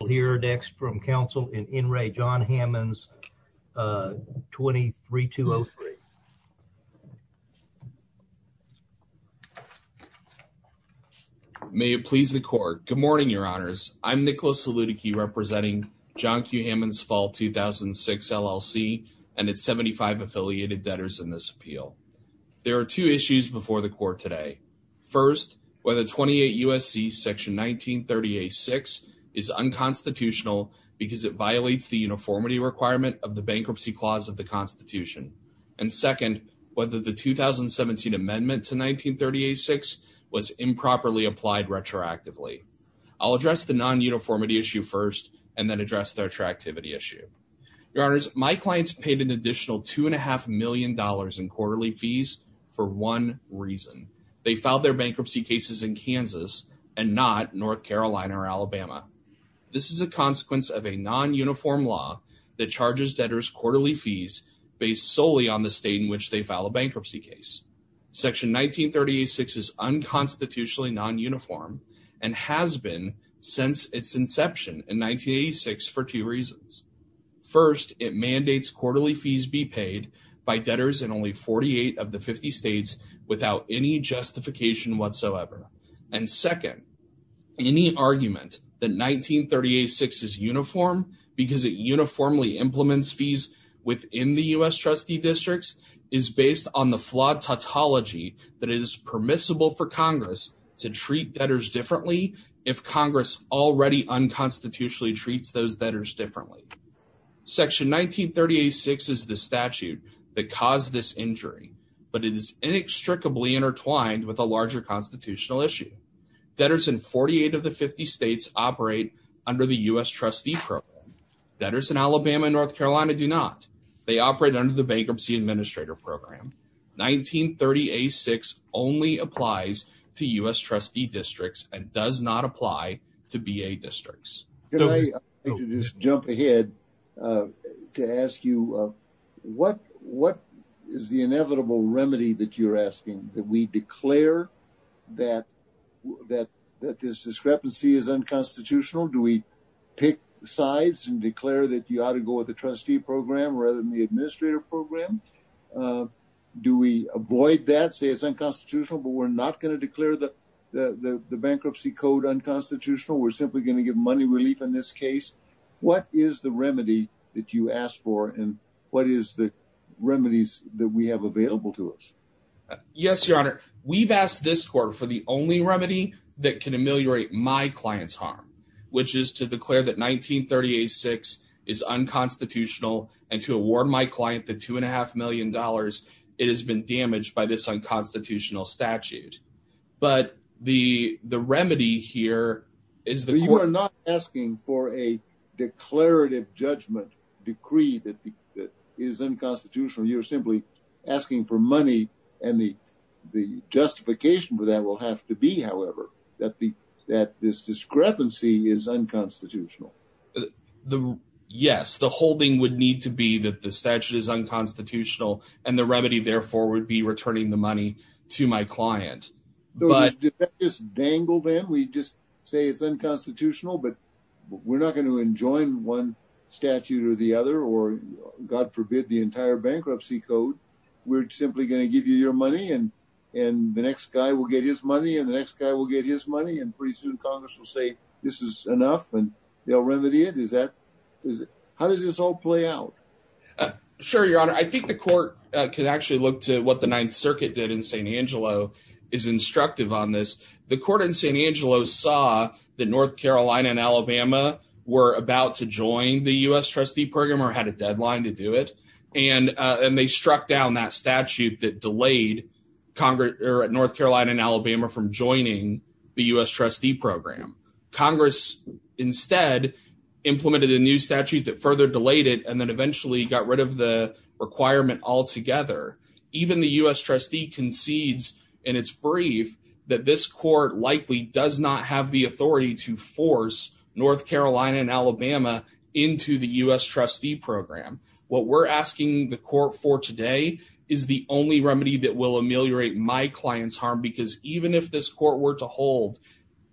We'll hear next from counsel in in re John Hammons 23-203. May it please the court. Good morning, your honors. I'm Nicholas Saludici representing John Q. Hammons Fall 2006 LLC and its 75 affiliated debtors in this appeal. There are two issues before the court today. First, whether 28 U.S.C. section 1938-6 is unconstitutional because it violates the uniformity requirement of the Bankruptcy Clause of the Constitution. And second, whether the 2017 amendment to 1938-6 was improperly applied retroactively. I'll address the non-uniformity issue first and then address the attractivity issue. Your honors, my clients paid an additional $2.5 million in quarterly fees for one reason. They filed their bankruptcy cases in Kansas and not North Carolina or Alabama. This is a consequence of a non-uniform law that charges debtors quarterly fees based solely on the state in which they file a bankruptcy case. Section 1938-6 is unconstitutionally non-uniform and has been since its inception in 1986 for two reasons. First, it mandates quarterly fees be paid by debtors in only 48 of the 50 states without any justification whatsoever. And second, any argument that 1938-6 is uniform because it uniformly implements fees within the U.S. trustee districts is based on the flawed tautology that is permissible for Congress to treat debtors differently if Congress already unconstitutionally treats those debtors differently. Section 1938-6 is the statute that caused this injury, but it is inextricably intertwined with a larger constitutional issue. Debtors in 48 of the 50 states operate under the U.S. trustee program. Debtors in Alabama and North Carolina do not. They operate under the Bankruptcy Administrator Program. 1938-6 only applies to U.S. trustee districts and does not apply to B.A. districts. Can I just jump ahead to ask you, what is the inevitable remedy that you're asking? That we declare that this discrepancy is unconstitutional? Do we pick sides and declare that you ought to go with the trustee program rather than the administrator program? Do we avoid that, say it's unconstitutional, but we're not going to declare the bankruptcy code unconstitutional? We're simply going to give money relief in this case? What is the remedy that you ask for and what is the remedies that we have available to us? Yes, Your Honor. We've asked this court for the only remedy that can ameliorate my client's harm, which is to declare that 1938-6 is unconstitutional and to award my client the $2.5 million it has been damaged by this unconstitutional statute. But the remedy here is that you are not asking for a declarative judgment decree that is unconstitutional. You're simply asking for money. And the justification for that will have to be, however, that this discrepancy is unconstitutional. Yes, the whole thing would need to be that the statute is unconstitutional and the remedy therefore would be returning the money to my client. So is that just dangled in? We just say it's unconstitutional, but we're not going to enjoin one statute or the other or, God forbid, the entire bankruptcy code. We're simply going to give you your money and the next guy will get his money and the next guy will get his money. And pretty soon Congress will say this is enough and they'll remedy it? How does this all play out? Sure, Your Honor. I think the court could actually look to what the Ninth Circuit did in St. Angelo is instructive on this. The court in St. Angelo saw that North Carolina and Alabama were about to join the U.S. trustee program or had a deadline to do it. And they struck down that statute that delayed North Carolina and Alabama from joining the U.S. trustee program. Congress instead implemented a new statute that further delayed it and then eventually got rid of the requirement altogether. Even the U.S. trustee concedes in its brief that this court likely does not have the authority to force North Carolina and Alabama into the U.S. trustee program. What we're asking the court for today is the only remedy that will ameliorate my client's harm because even if this court were to hold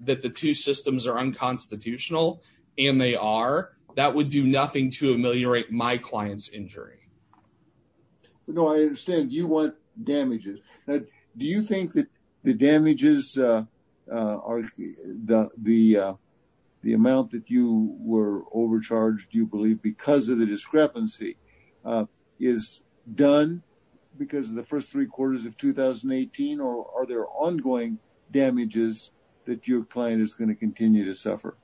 that the two systems are unconstitutional and they are, that would do nothing to ameliorate my client's injury. I understand you want damages. Do you think that the damages, the amount that you were overcharged, you believe, because of the discrepancy is done because of the first three quarters of 2018 or are there ongoing damages that your client is going to continue to suffer?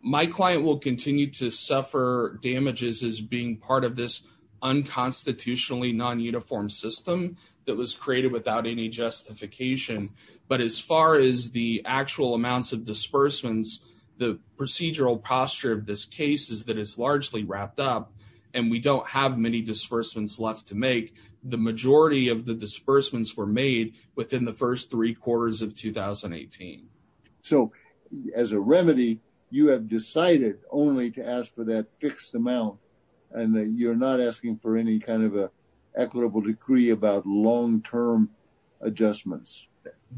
My client will continue to suffer damages as being part of this unconstitutionally non-uniform system that was created without any justification. But as far as the actual amounts of disbursements, the procedural posture of this case is that it's largely wrapped up and we don't have many disbursements left to make. The majority of the disbursements were made within the first three quarters of 2018. So as a remedy, you have decided only to ask for that fixed amount and that you're not asking for any kind of a equitable decree about long-term adjustments.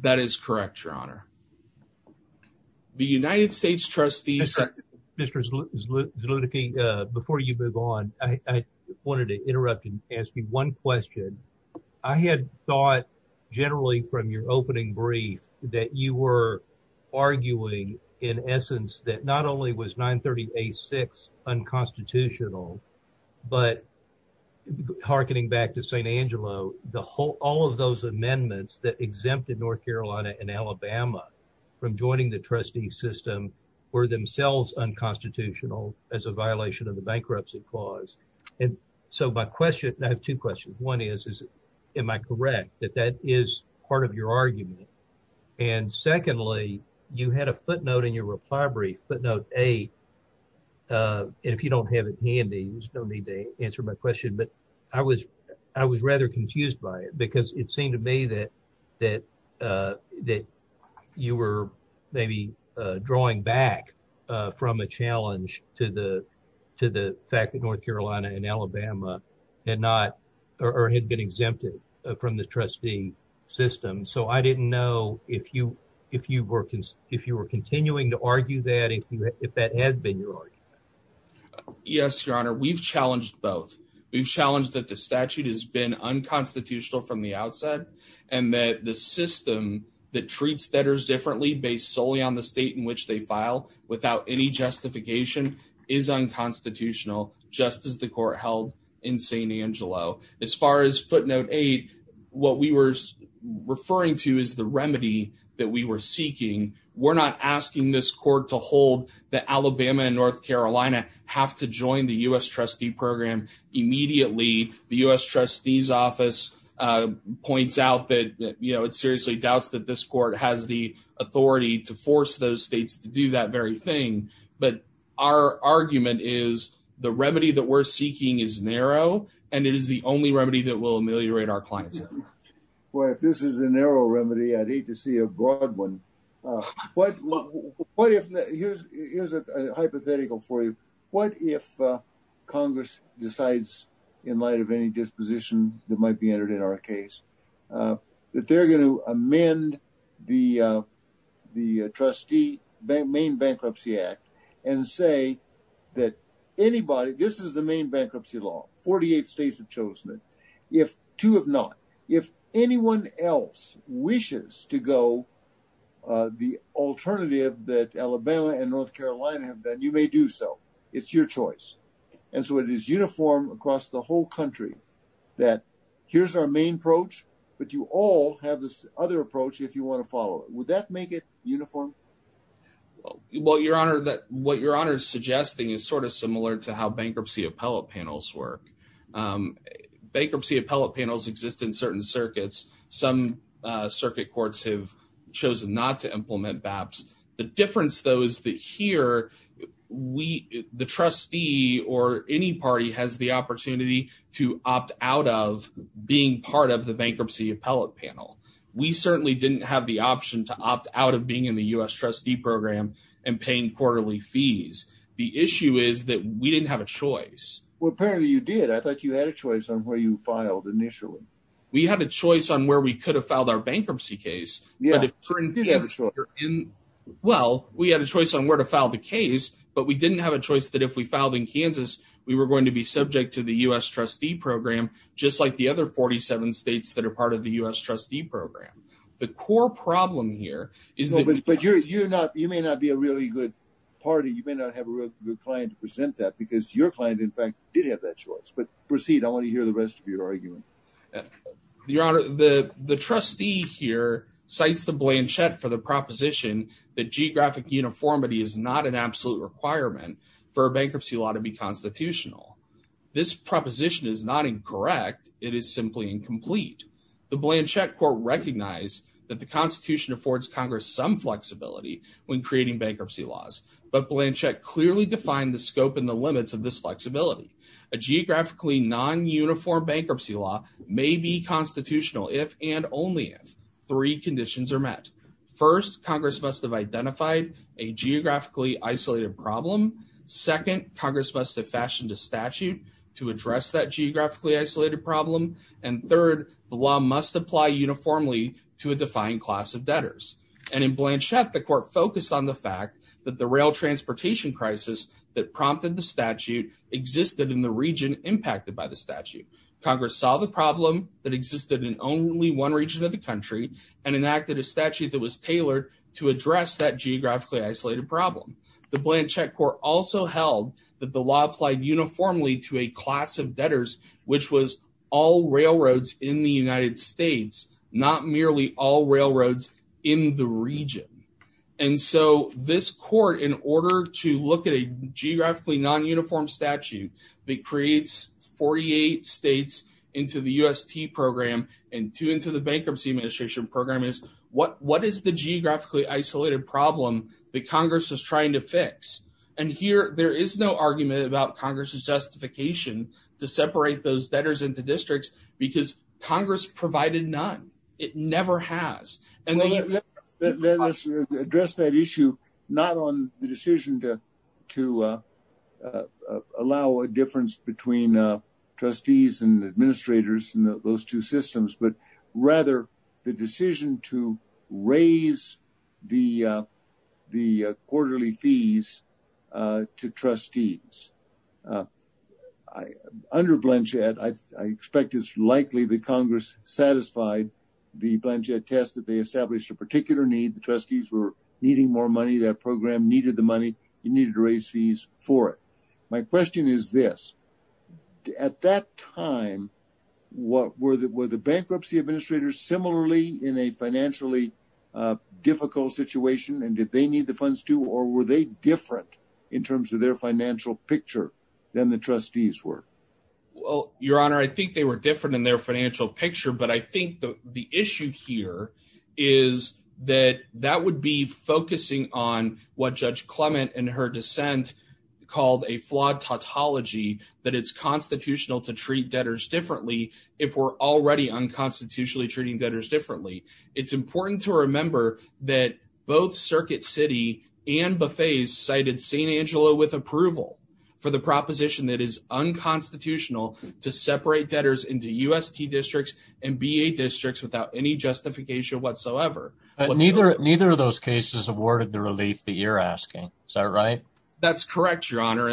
That is correct, your honor. The United States trustee... Mr. Zlutnicky, before you move on, I wanted to interrupt and ask you one question. I had thought generally from your opening brief that you were arguing in essence that not only was 938-6 unconstitutional, but hearkening back to St. Angelo, all of those amendments that exempted North Carolina and Alabama from joining the trustee system were themselves unconstitutional as a violation of the bankruptcy clause. And so my question, I have two questions. One is, am I correct that that is part of your argument? And secondly, you had a footnote in your reply brief, footnote eight, and if you don't have it handy, there's no need to answer my question, but I was rather confused by it because it seemed to me that you were maybe drawing back from a challenge to the fact that North Carolina and Alabama had not, or had been exempted from the trustee system. So I didn't know if you were continuing to argue that, if that had been your argument. Yes, your honor. We've challenged both. We've challenged that the statute has been unconstitutional from the outset and that the system that treats debtors differently based solely on the state in which they file without any justification is unconstitutional, just as the court held in St. Angelo. As far as footnote eight, what we were referring to is the remedy that we were seeking. We're not asking this court to hold that Alabama and North Carolina have to join the U.S. trustee program immediately. The U.S. trustee's office points out that it seriously doubts that this court has the authority to But our argument is the remedy that we're seeking is narrow, and it is the only remedy that will ameliorate our clients. Well, if this is a narrow remedy, I'd hate to see a broad one. What if, here's a hypothetical for you. What if Congress decides in light of any disposition that might be entered in our case, that they're going to amend the trustee main bankruptcy act and say that anybody, this is the main bankruptcy law. 48 states have chosen it. If two have not, if anyone else wishes to go the alternative that Alabama and North Carolina have done, you may do so. It's your choice. And so it is uniform across the whole country that here's our main approach, but you all have this other approach if you want to follow it. Would that make it uniform? Well, your honor, what your honor is suggesting is sort of similar to how bankruptcy appellate panels work. Bankruptcy appellate panels exist in certain circuits. Some circuit courts have chosen not to implement BAPs. The difference though is that here, the trustee or any party has the opportunity to opt out of being part of the bankruptcy appellate panel. We certainly didn't have the option to opt out of being in the U.S. trustee program and paying quarterly fees. The issue is that we didn't have a choice. Well, apparently you did. I thought you had a choice on where you filed initially. We had a choice on where we could have filed our bankruptcy case. Well, we had a choice on where to file the case, but we didn't have a choice that if we filed in Kansas, we were going to be subject to the U.S. trustee program, just like the other 47 states that are part of the U.S. trustee program. The core problem here is that you're not, you may not be a really good party. You may not have a real good client to present that because your client, in fact, did have that choice, but proceed. I want to hear the rest of your argument. Your Honor, the trustee here cites the Blanchett for the proposition that geographic uniformity is not an absolute requirement for a bankruptcy law to be constitutional. This proposition is not incorrect. It is simply incomplete. The Blanchett court recognized that the Constitution affords Congress some flexibility when creating bankruptcy laws, but Blanchett clearly defined the scope and the limits of this flexibility. A geographically non-uniform bankruptcy law may be constitutional if and only if three conditions are met. First, Congress must have identified a geographically isolated problem. Second, Congress must have fashioned a statute to address that geographically isolated problem. And third, the law must apply uniformly to a defined class of debtors. And in Blanchett, the court focused on the fact that the rail transportation crisis that in the region impacted by the statute. Congress saw the problem that existed in only one region of the country and enacted a statute that was tailored to address that geographically isolated problem. The Blanchett court also held that the law applied uniformly to a class of debtors, which was all railroads in the United States, not merely all railroads in the region. And so this court, in order to look at a geographically non-uniform statute that creates 48 states into the UST program and two into the bankruptcy administration program is what is the geographically isolated problem that Congress was trying to fix? And here, there is no argument about Congress's justification to separate those debtors into districts because Congress provided none. It never has. And let us address that issue, not on the decision to allow a difference between trustees and administrators in those two systems, but rather the decision to raise the quarterly fees to trustees. Under Blanchett, I expect it's likely that Congress satisfied the Blanchett test that they established a particular need. The trustees were needing more money. That program needed the money. You needed to raise fees for it. My question is this. At that time, were the bankruptcy administrators similarly in a financially difficult situation and did they need the funds too, or were they different in terms of their financial picture than the trustees were? Well, Your Honor, I think they were different in their financial picture. But I think the issue here is that that would be focusing on what Judge Clement and her dissent called a flawed tautology, that it's constitutional to treat debtors differently if we're already unconstitutionally treating debtors differently. It's important to remember that both Circuit City and Buffay's cited St. Angelo with approval for the proposition that is unconstitutional to separate debtors into UST districts and BA districts without any justification whatsoever. Neither of those cases awarded the relief that you're asking. Is that right? That's correct, Your Honor.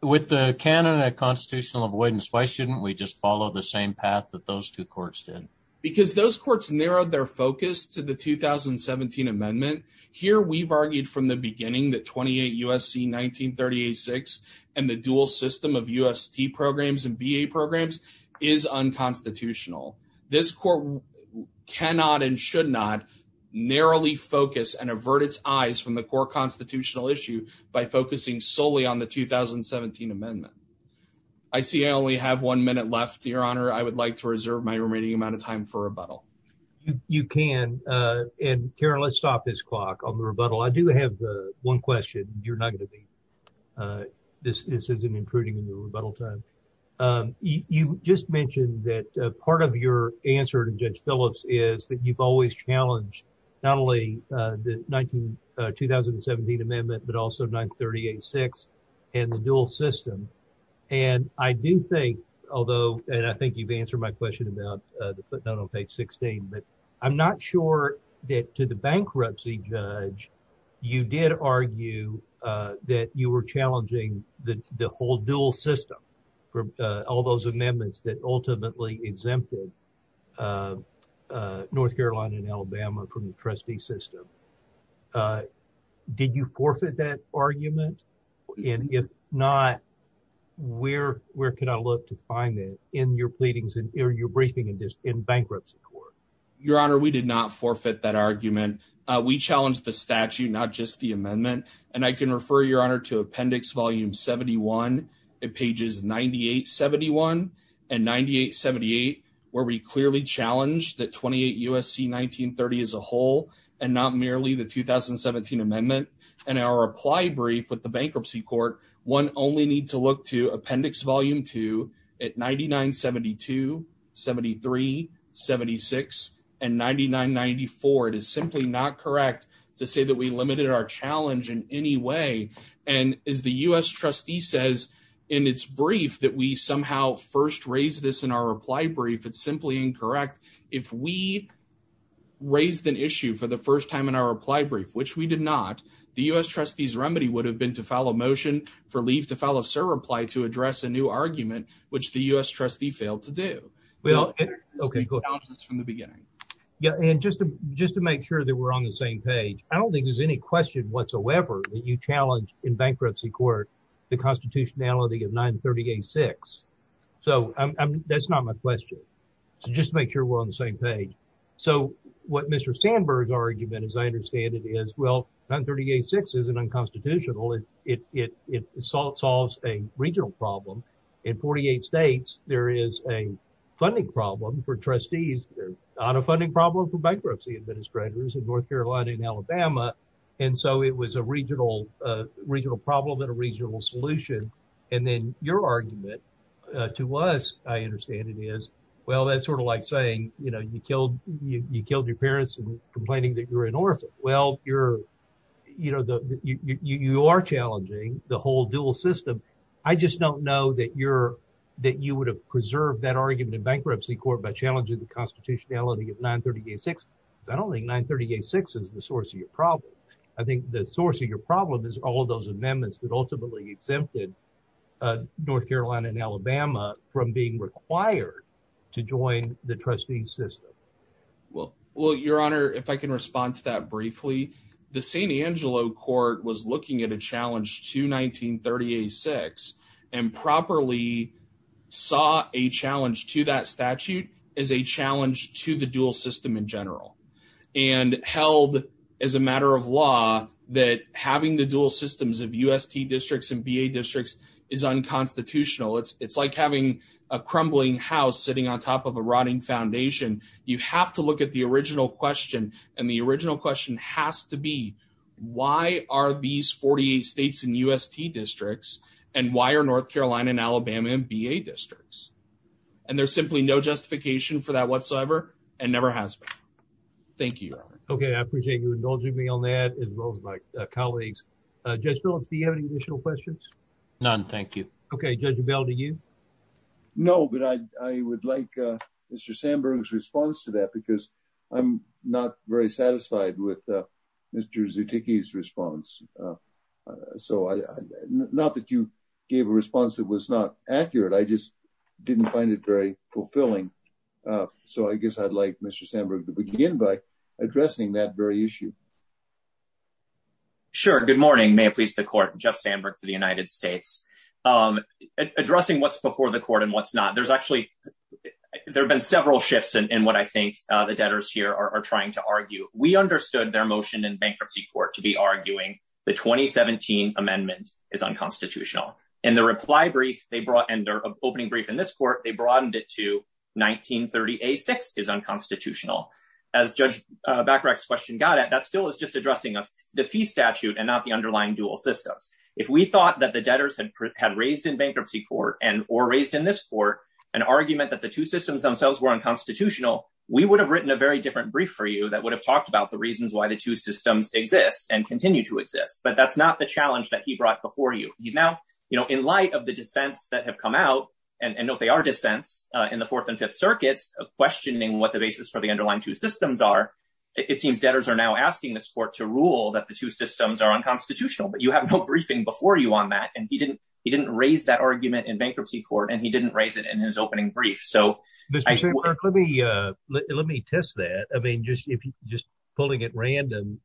With the canon of constitutional avoidance, why shouldn't we just follow the same path that those two courts did? Because those courts narrowed their focus to the 2017 Amendment. Here, we've argued from the beginning that 28 U.S.C. 1938-6 and the dual system of UST programs and BA programs is unconstitutional. This court cannot and should not narrowly focus and avert its eyes from the core constitutional issue by focusing solely on the 2017 Amendment. I would like to reserve my remaining amount of time for rebuttal. You can. Karen, let's stop this clock on the rebuttal. I do have one question. You're not going to be. This isn't intruding in your rebuttal time. You just mentioned that part of your answer to Judge Phillips is that you've always challenged not only the 2017 Amendment, but also 938-6 and the dual system. And I do think, although, and I think you've answered my question about the footnote on page 16, but I'm not sure that to the bankruptcy judge, you did argue that you were challenging the whole dual system from all those amendments that ultimately exempted North Carolina and Alabama from the trustee system. Did you forfeit that argument? And if not, where can I look to find that in your briefings in bankruptcy court? Your Honor, we did not forfeit that argument. We challenged the statute, not just the amendment. And I can refer, Your Honor, to Appendix Volume 71, pages 98-71 and 98-78, where we clearly challenged the 28 U.S.C. 1930 as a whole and not merely the 2017 Amendment. And our reply brief with the bankruptcy court, one only need to look to Appendix Volume 2 at 99-72, 73, 76, and 99-94. It is simply not correct to say that we limited our challenge in any way. And as the U.S. trustee says in its brief that we somehow first raised this in our reply brief, it's simply incorrect. If we raised an issue for the first time in our reply brief, which we did not, the U.S. trustee's remedy would have been to file a motion for leave to file a surreply to address a new argument, which the U.S. trustee failed to do. We don't enter this in the analysis from the beginning. Yeah, and just to make sure that we're on the same page, I don't think there's any question whatsoever that you challenge in bankruptcy court the constitutionality of 930-86. So that's not my question. So just to make sure we're on the same page. So what Mr. Sandberg's argument, as I understand it, is, well, 930-86 isn't unconstitutional. It solves a regional problem. In 48 states, there is a funding problem for trustees. There's not a funding problem for bankruptcy administrators in North Carolina and Alabama. And so it was a regional problem and a regional solution. And then your argument to us, I understand it is, well, that's sort of like saying, you know, you killed your parents and complaining that you're an orphan. Well, you're, you know, you are challenging the whole dual system. I just don't know that you would have preserved that argument in bankruptcy court by challenging the constitutionality of 930-86. I don't think 930-86 is the source of your problem. I think the source of your problem is all those amendments that ultimately exempted North Carolina and Alabama from being required to join the trustee system. Well, your honor, if I can respond to that briefly, the San Angelo court was looking at a challenge to 930-86 and properly saw a challenge to that statute as a challenge to the dual system in general. And held as a matter of law that having the dual systems of U.S.T. districts and B.A. districts is unconstitutional. It's like having a crumbling house sitting on top of a rotting foundation. You have to look at the original question. And the original question has to be, why are these 48 states and U.S.T. districts and why are North Carolina and Alabama and B.A. districts? And there's simply no justification for that whatsoever and never has been. Thank you, your honor. Okay. I appreciate you indulging me on that as well as my colleagues. Judge Phillips, do you have any additional questions? None. Thank you. Okay. Judge Bell, do you? No, but I would like Mr. Sandberg's response to that because I'm not very satisfied with Mr. Zuticky's response. So, not that you gave a response that was not accurate. I just didn't find it very fulfilling. So, I guess I'd like Mr. Sandberg to begin by addressing that very issue. Sure. Good morning. May it please the court. Jeff Sandberg for the United States. Addressing what's before the court and what's not. There's actually, there have been several shifts in what I think the debtors here are trying to argue. We understood their motion in bankruptcy court to be arguing the 2017 amendment is unconstitutional. In the reply brief, they brought in their opening brief in this court, they broadened it to 1930A6 is unconstitutional. As Judge Bacharach's question got at, that still is just addressing the fee statute and not the underlying dual systems. If we thought that the debtors had raised in bankruptcy court or raised in this court an argument that the two systems themselves were unconstitutional, we would have written a very different brief for you that would have talked about the reasons why the two systems exist and continue to exist. But that's not the challenge that he brought before you. He's now, you know, in light of the dissents that have come out and note they are dissents in the fourth and fifth circuits of questioning what the basis for the underlying two systems are. It seems debtors are now asking this court to rule that the two systems are unconstitutional, but you have no briefing before you on that. And he didn't, he didn't raise that argument in bankruptcy court and he didn't raise it in his opening brief. So let me, let me test that. I mean, just, if you just pulling at random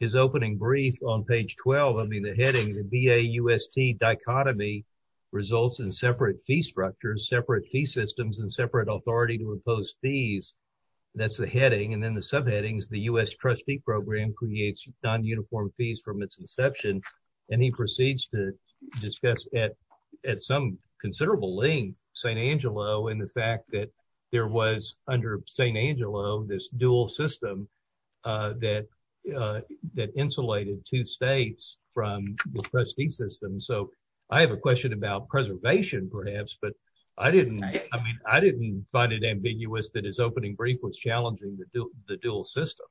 his opening brief on page 12, I mean, the heading, the BAUST dichotomy results in separate fee structures, separate fee systems, and separate authority to impose fees. That's the heading. And then the subheadings, the U.S. trustee program creates non-uniform fees from its inception. And he proceeds to discuss at, at some considerable length, St. Angelo and the fact that there was under St. Angelo, this dual system that, that insulated two states from the trustee system. So I have a question about preservation perhaps, but I didn't, I mean, I didn't find it ambiguous that his opening brief was challenging the dual system.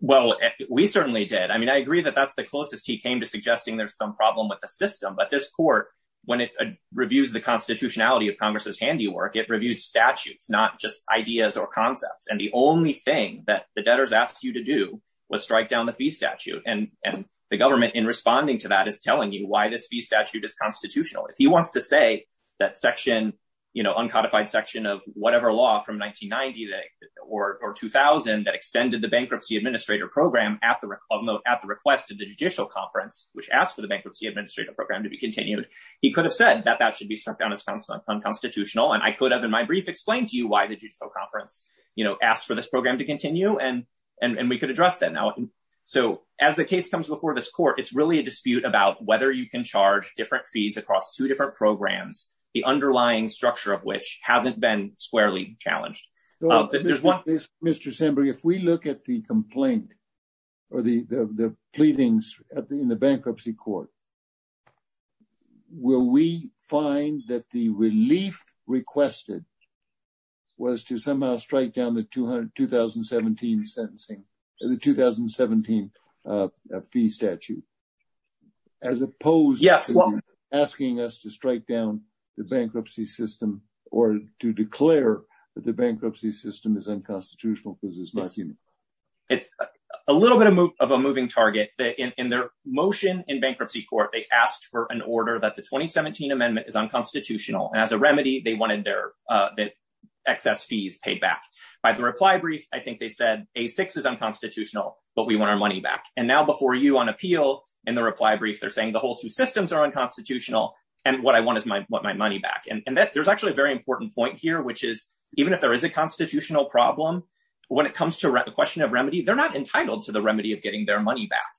Well, we certainly did. I mean, I agree that that's the closest he came to suggesting there's some problem with the system, but this court, when it reviews the constitutionality of Congress's handiwork, it reviews statutes, not just ideas or concepts. And the only thing that the debtors asked you to do was strike down the fee statute. And, and the government in responding to that is telling you why this fee statute is constitutional. If he wants to say that section, you know, uncodified section of whatever law from 1990 or 2000 that extended the bankruptcy administrator program at the request of the judicial conference, which asked for the bankruptcy administrator program to be continued, he could have said that that should be struck down as constitutional. And I could have, in my brief, explained to you why the judicial conference, you know, asked for this program to continue and, and we could address that now. So as the case comes before this court, it's really a dispute about whether you can charge different fees across two different programs, the underlying structure of which hasn't been squarely challenged. Mr. Sembry, if we look at the complaint or the, the, the pleadings in the bankruptcy court, will we find that the relief requested was to somehow strike down the 200, 2017 sentencing, the 2017 fee statute, as opposed to asking us to strike down the bankruptcy system or to declare that the bankruptcy system is unconstitutional because it's not human. It's a little bit of a moving target that in their motion in bankruptcy court, they asked for an order that the 2017 amendment is unconstitutional. And as a remedy, they wanted their, that excess fees paid back by the reply brief. I think they said a six is unconstitutional, but we want our money back. And now before you on appeal and the reply brief, they're saying the whole two systems are unconstitutional. And what I want is my, what my money back. And that there's actually a very important point here, which is even if there is a question of remedy, they're not entitled to the remedy of getting their money back.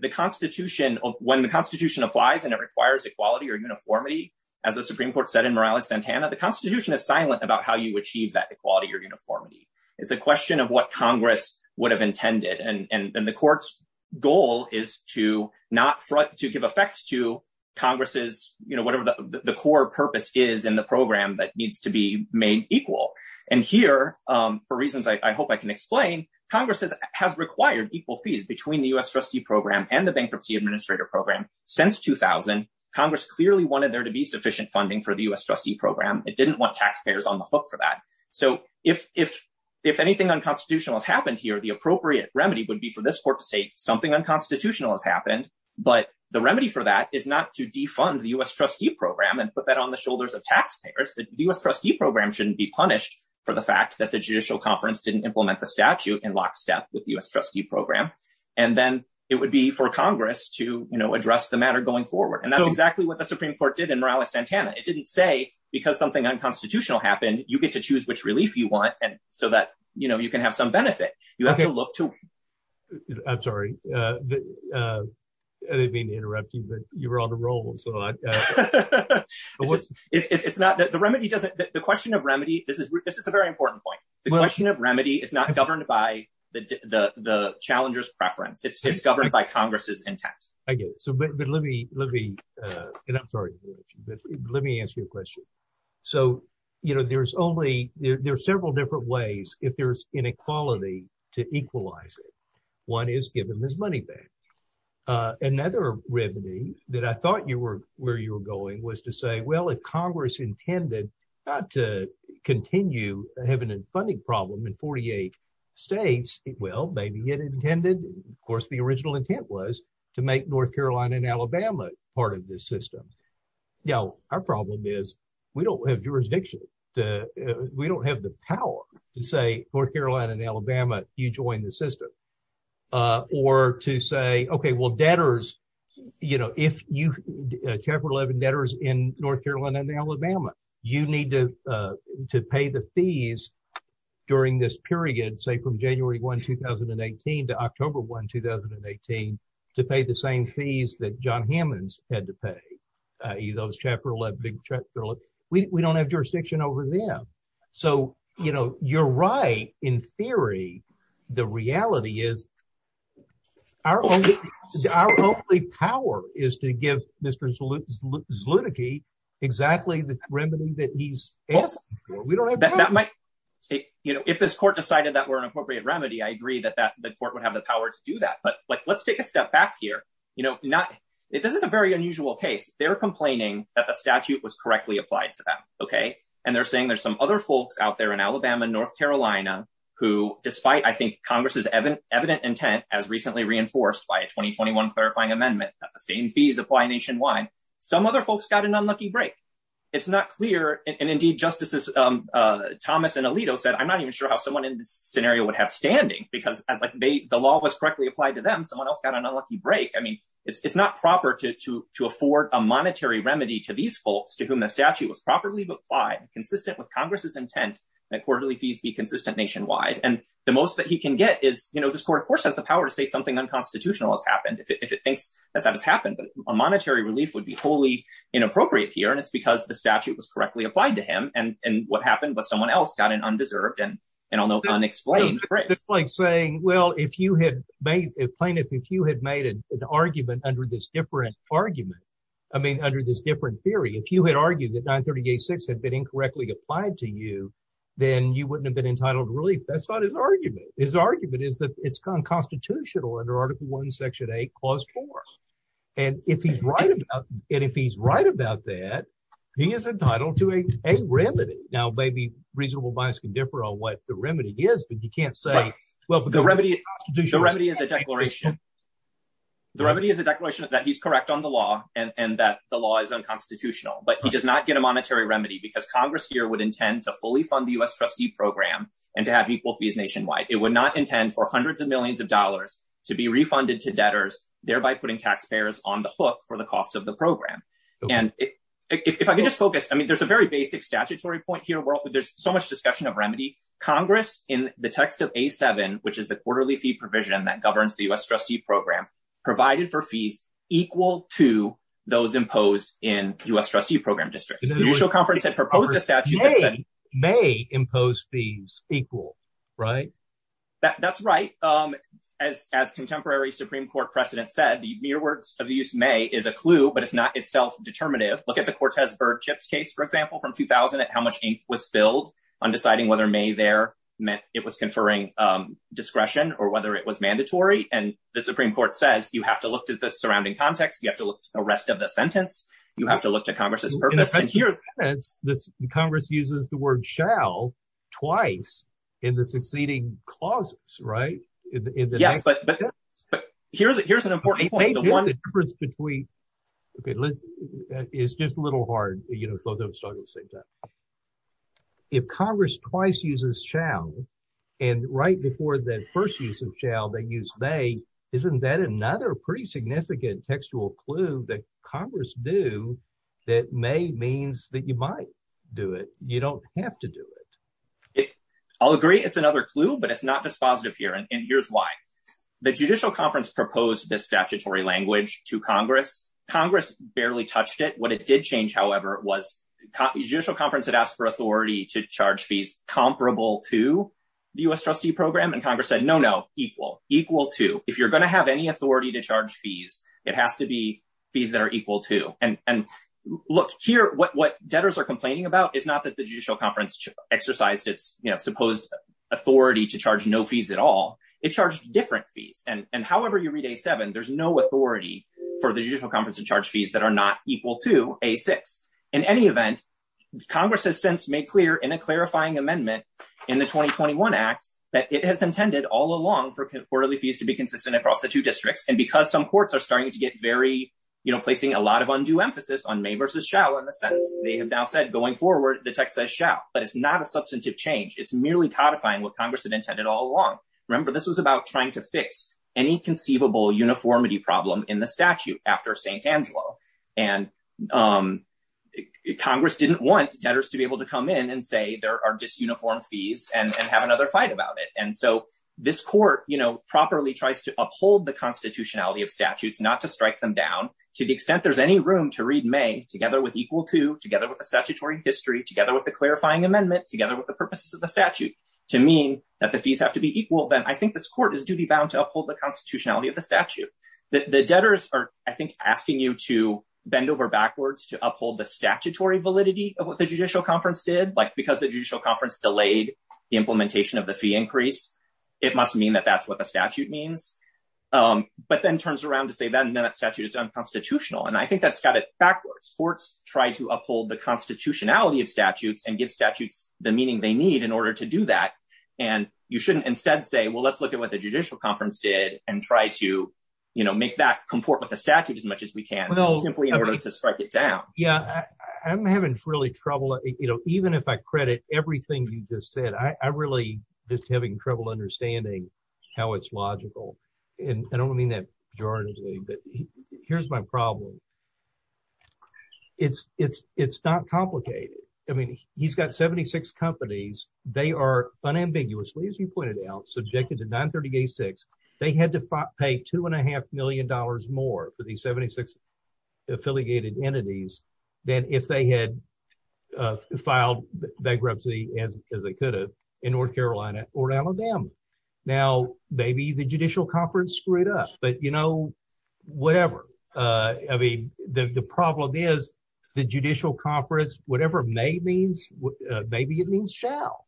The constitution, when the constitution applies and it requires equality or uniformity, as the Supreme court said in Morales Santana, the constitution is silent about how you achieve that equality or uniformity. It's a question of what Congress would have intended. And, and, and the court's goal is to not front to give effect to Congress's, you know, whatever the core purpose is in the program that needs to be made equal. And here for reasons I hope I can explain Congress has, has required equal fees between the U S trustee program and the bankruptcy administrator program since 2000, Congress clearly wanted there to be sufficient funding for the U S trustee program. It didn't want taxpayers on the hook for that. So if, if, if anything unconstitutional has happened here, the appropriate remedy would be for this court to say something unconstitutional has happened, but the remedy for that is not to defund the U S trustee program and put that on the shoulders of taxpayers. The U S trustee program shouldn't be punished for the fact that the judicial conference didn't implement the statute in lockstep with the U S trustee program. And then it would be for Congress to, you know, address the matter going forward. And that's exactly what the Supreme court did in Morales Santana. It didn't say because something unconstitutional happened, you get to choose which relief you want and so that, you know, you can have some benefit. You have to look to. I'm sorry. I didn't mean to interrupt you, but you were on the roll. So it's not that the remedy doesn't, the question of remedy, this is, this is a very important point. The question of remedy is not governed by the, the, the challenger's preference. It's, it's governed by Congress's intent. I get it. So, but, but let me, let me, and I'm sorry, let me answer your question. So, you know, there's only, there are several different ways. If there's inequality to equalize it, one is given this money back. Another remedy that I thought you were where you were going was to say, well, if Congress intended not to continue having a funding problem in 48 states, well, maybe it intended, of course, the original intent was to make North Carolina and Alabama part of this system. Now, our problem is we don't have jurisdiction to, we don't have the power to say North Carolina and Alabama, you join the system. Or to say, okay, well debtors, you know, if you, Chapter 11 debtors in North Carolina and Alabama, you need to, to pay the fees during this period, say from January 1, 2018 to October 1, 2018, to pay the same fees that John Hammonds had to pay. Those Chapter 11, we don't have jurisdiction over them. So, you know, you're right. In theory, the reality is our only power is to give Mr. Zlutnicky exactly the remedy that he's asking for. We don't have the power. That might, you know, if this court decided that were an appropriate remedy, I agree that that the court would have the power to do that. But like, let's take a step back here. You know, not, this is a very unusual case. They're complaining that the statute was correctly applied to them. And they're saying there's some other folks out there in Alabama, North Carolina, who, despite, I think Congress's evident intent, as recently reinforced by a 2021 clarifying amendment, same fees apply nationwide. Some other folks got an unlucky break. It's not clear, and indeed, Justices Thomas and Alito said, I'm not even sure how someone in this scenario would have standing because the law was correctly applied to them. Someone else got an unlucky break. I mean, it's not proper to afford a monetary remedy to these folks to whom the statute was properly applied, consistent with Congress's intent that quarterly fees be consistent nationwide. And the most that he can get is, you know, this court, of course, has the power to say something unconstitutional has happened if it thinks that that has happened. But a monetary relief would be wholly inappropriate here. And it's because the statute was correctly applied to him. And what happened was someone else got an undeserved and unexplained break. It's like saying, well, if you had made, if plaintiff, if you had made an argument under this different argument, I mean, under this different theory, if you had argued that 9386 had been incorrectly applied to you, then you wouldn't have been entitled to relief. That's not his argument. His argument is that it's unconstitutional under Article 1, Section 8, Clause 4. And if he's right about it, if he's right about that, he is entitled to a remedy. Now, maybe reasonable bias can differ on what the remedy is, but you can't say, well, the remedy is a declaration. The remedy is a declaration that he's correct on the law and that the law is unconstitutional. But he does not get a monetary remedy because Congress here would intend to fully fund the U.S. trustee program and to have equal fees nationwide. It would not intend for hundreds of millions of dollars to be refunded to debtors, thereby putting taxpayers on the hook for the cost of the program. And if I can just focus, I mean, there's a very basic statutory point here. There's so much discussion of remedy. Congress, in the text of A-7, which is the quarterly fee provision that governs the U.S. trustee program, provided for fees equal to those imposed in U.S. trustee program districts. The initial conference had proposed a statute that said- May impose fees equal, right? That's right. As contemporary Supreme Court precedent said, the mere words of the use may is a clue, but it's not itself determinative. Look at the Cortez-Bird-Chips case, for example, from 2000 at how much ink was spilled on deciding whether may there meant it was conferring discretion or whether it was mandatory. And the Supreme Court says, you have to look to the surrounding context. You have to look to the rest of the sentence. You have to look to Congress's purpose. In a sense, the Congress uses the word shall twice in the succeeding clauses, right? Yes, but here's an important point. I think the difference between- Okay, Liz, it's just a little hard, you know, both of those talking at the same time. But if Congress twice uses shall, and right before the first use of shall, they use may, isn't that another pretty significant textual clue that Congress knew that may means that you might do it. You don't have to do it. I'll agree it's another clue, but it's not dispositive here, and here's why. The judicial conference proposed this statutory language to Congress. Congress barely touched it. It did change, however, was judicial conference had asked for authority to charge fees comparable to the U.S. trustee program, and Congress said, no, no, equal, equal to. If you're going to have any authority to charge fees, it has to be fees that are equal to. And look here, what debtors are complaining about is not that the judicial conference exercised its supposed authority to charge no fees at all. It charged different fees. And however you read A7, there's no authority for the judicial conference to charge fees that are not equal to A6. In any event, Congress has since made clear in a clarifying amendment in the 2021 Act that it has intended all along for quarterly fees to be consistent across the two districts, and because some courts are starting to get very, you know, placing a lot of undue emphasis on may versus shall in the sense they have now said going forward, the text says shall, but it's not a substantive change. It's merely codifying what Congress had intended all along. Remember, this was about trying to fix any conceivable uniformity problem in the statute after St. Angelo, and Congress didn't want debtors to be able to come in and say there are disuniform fees and have another fight about it. And so this court, you know, properly tries to uphold the constitutionality of statutes, not to strike them down. To the extent there's any room to read May together with equal to, together with the statutory history, together with the clarifying amendment, together with the purposes of the statute to mean that the fees have to be equal, then I think this court is duty bound to uphold the constitutionality of the statute. The debtors are, I think, asking you to bend over backwards to uphold the statutory validity of what the judicial conference did, like because the judicial conference delayed the implementation of the fee increase, it must mean that that's what the statute means. But then turns around to say then that statute is unconstitutional. And I think that's got it backwards. Courts try to uphold the constitutionality of statutes and give statutes the meaning they need in order to do that. And you shouldn't instead say, well, let's look at what the judicial conference did and try to make that comport with the statute as much as we can, simply in order to strike it down. Yeah, I'm having really trouble, even if I credit everything you just said, I'm really just having trouble understanding how it's logical. And I don't mean that pejoratively, but here's my problem. It's not complicated. I mean, he's got 76 companies. They are unambiguously, as you pointed out, subjected to 938-6. They had to pay two and a half million dollars more for the 76 affiliated entities than if they had filed bankruptcy as they could have in North Carolina or Alabama. Now, maybe the judicial conference screwed up, but, you know, whatever. I mean, the problem is the judicial conference, whatever may means, maybe it means shall.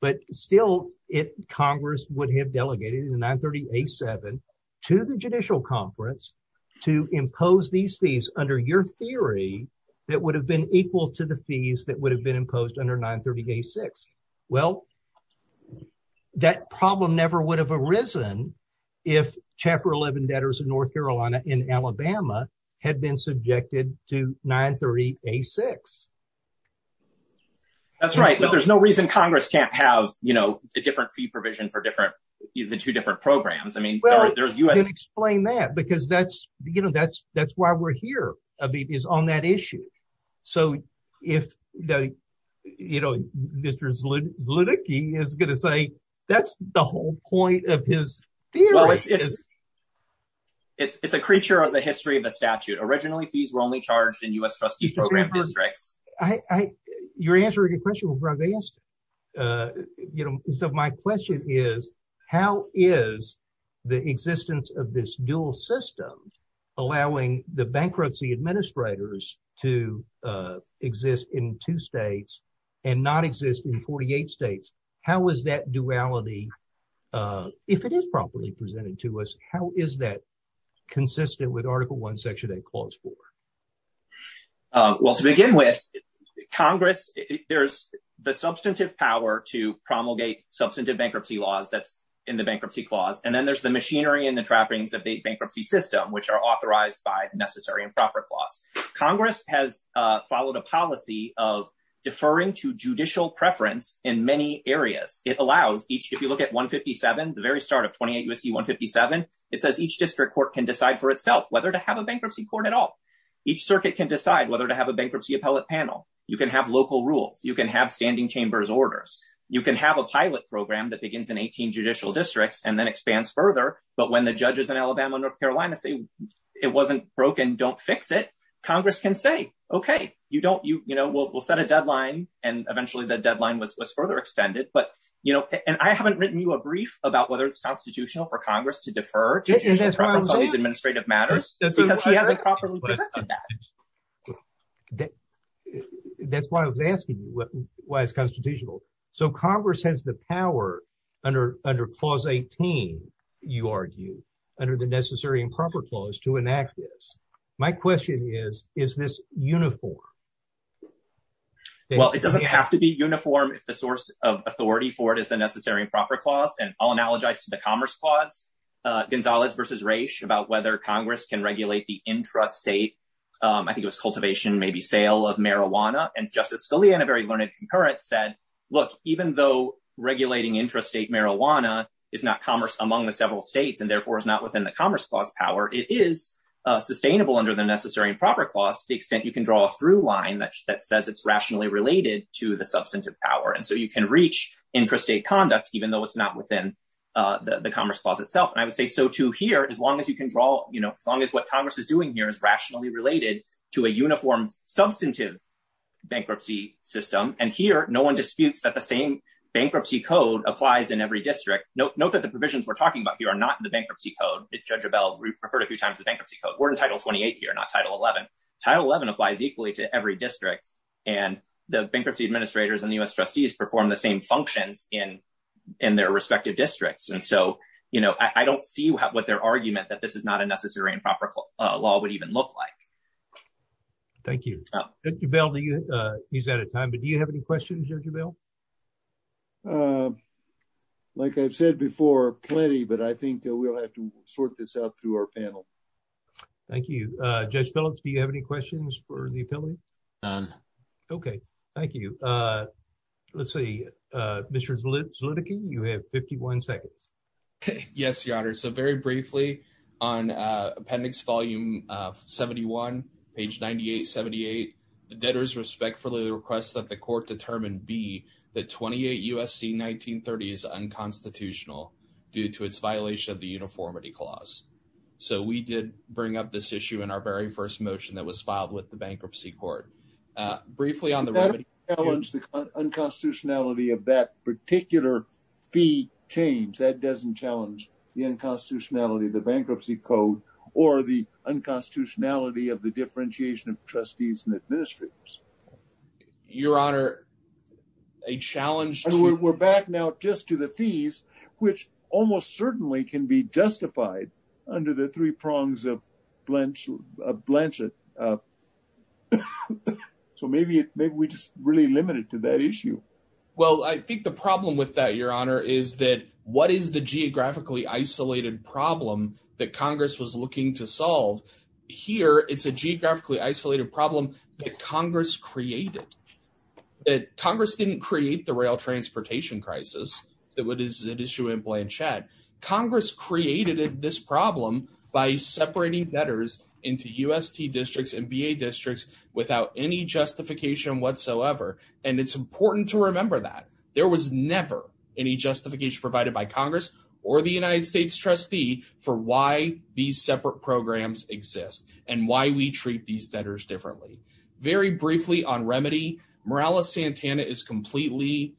But still, Congress would have delegated 938-7 to the judicial conference to impose these fees under your theory that would have been equal to the fees that would have been imposed under 938-6. Well, that problem never would have arisen if Chapter 11 debtors of North Carolina in Alabama had been subjected to 938-6. That's right, but there's no reason Congress can't have, you know, a different fee provision for different, the two different programs. I mean, there's U.S. Explain that, because that's, you know, that's why we're here is on that issue. So if, you know, Mr. Zlutnicky is going to say that's the whole point of his theory. Well, it's a creature of the history of the statute. Originally, fees were only charged in U.S. You're answering a question that was asked, you know, so my question is, how is the existence of this dual system allowing the bankruptcy administrators to exist in two states and not exist in 48 states? How is that duality, if it is properly presented to us, how is that consistent with Article 1, Section 8, Clause 4? Well, to begin with, Congress, there's the substantive power to promulgate substantive bankruptcy laws that's in the Bankruptcy Clause. And then there's the machinery and the trappings of the bankruptcy system, which are authorized by necessary and proper clause. Congress has followed a policy of deferring to judicial preference in many areas. It allows each, if you look at 157, the very start of 28 U.S.C. 157, it says each district court can decide for itself whether to have a bankruptcy court at all. Each circuit can decide whether to have a bankruptcy appellate panel. You can have local rules. You can have standing chambers orders. You can have a pilot program that begins in 18 judicial districts and then expands further. But when the judges in Alabama, North Carolina say it wasn't broken, don't fix it, Congress can say, OK, you don't, you know, we'll set a deadline. And eventually the deadline was further extended. But, you know, and I haven't written you a brief about whether it's constitutional for to prefer these administrative matters because he hasn't properly presented that. That's why I was asking you why it's constitutional. So Congress has the power under under Clause 18, you argue, under the necessary and proper clause to enact this. My question is, is this uniform? Well, it doesn't have to be uniform if the source of authority for it is the necessary and proper clause. And I'll analogize to the Commerce Clause, Gonzalez versus Raich, about whether Congress can regulate the intrastate, I think it was cultivation, maybe sale of marijuana. And Justice Scalia in a very learned current said, look, even though regulating intrastate marijuana is not commerce among the several states and therefore is not within the Commerce Clause power, it is sustainable under the necessary and proper clause to the extent you can draw a through line that says it's rationally related to the substantive power. And so you can reach intrastate conduct even though it's not within the Commerce Clause itself. And I would say so, too, here, as long as you can draw as long as what Congress is doing here is rationally related to a uniform substantive bankruptcy system. And here, no one disputes that the same bankruptcy code applies in every district. Note that the provisions we're talking about here are not the bankruptcy code. Judge Abell referred a few times the bankruptcy code. We're in Title 28 here, not Title 11. Title 11 applies equally to every district. And the bankruptcy administrators and U.S. trustees perform the same functions in their respective districts. And so I don't see what their argument that this is not a necessary and proper law would even look like. Thank you. Judge Abell, he's out of time. But do you have any questions, Judge Abell? Like I've said before, plenty. But I think that we'll have to sort this out through our panel. Thank you. Judge Phillips, do you have any questions for the appellate? OK, thank you. Let's see, Mr. Zlitkin, you have 51 seconds. Yes, Your Honor. So very briefly, on Appendix Volume 71, page 9878, the debtors respectfully request that the court determine B, that 28 U.S.C. 1930 is unconstitutional due to its violation of the uniformity clause. So we did bring up this issue in our very first motion that was filed with the bankruptcy court. Briefly on the remedy. But that doesn't challenge the unconstitutionality of that particular fee change. That doesn't challenge the unconstitutionality of the bankruptcy code or the unconstitutionality of the differentiation of trustees and administrators. Your Honor, a challenge to... We're back now just to the fees, which almost certainly can be justified under the three so maybe we just really limit it to that issue. Well, I think the problem with that, Your Honor, is that what is the geographically isolated problem that Congress was looking to solve? Here, it's a geographically isolated problem that Congress created. That Congress didn't create the rail transportation crisis that is at issue in Blanchett. Congress created this problem by separating debtors into U.S.T. districts and B.A. districts without any justification whatsoever. And it's important to remember that. There was never any justification provided by Congress or the United States trustee for why these separate programs exist and why we treat these debtors differently. Very briefly on remedy. Morales-Santana is completely...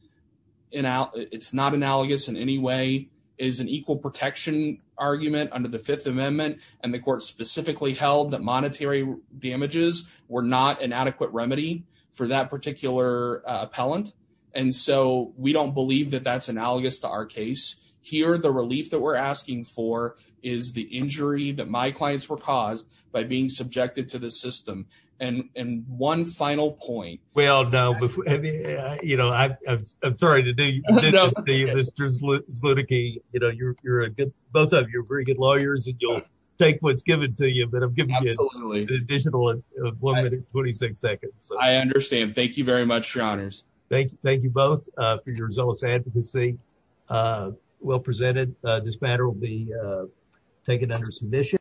It's not analogous in any way. It is an equal protection argument under the Fifth Amendment. And the court specifically held that monetary damages were not an adequate remedy for that particular appellant. And so we don't believe that that's analogous to our case. Here, the relief that we're asking for is the injury that my clients were caused by being subjected to the system. And one final point. You're a good... Both of you are very good lawyers and you'll take what's given to you. But I'm giving you an additional one minute and 26 seconds. I understand. Thank you very much, Your Honors. Thank you both for your zealous advocacy. Well presented. This matter will be taken under submission.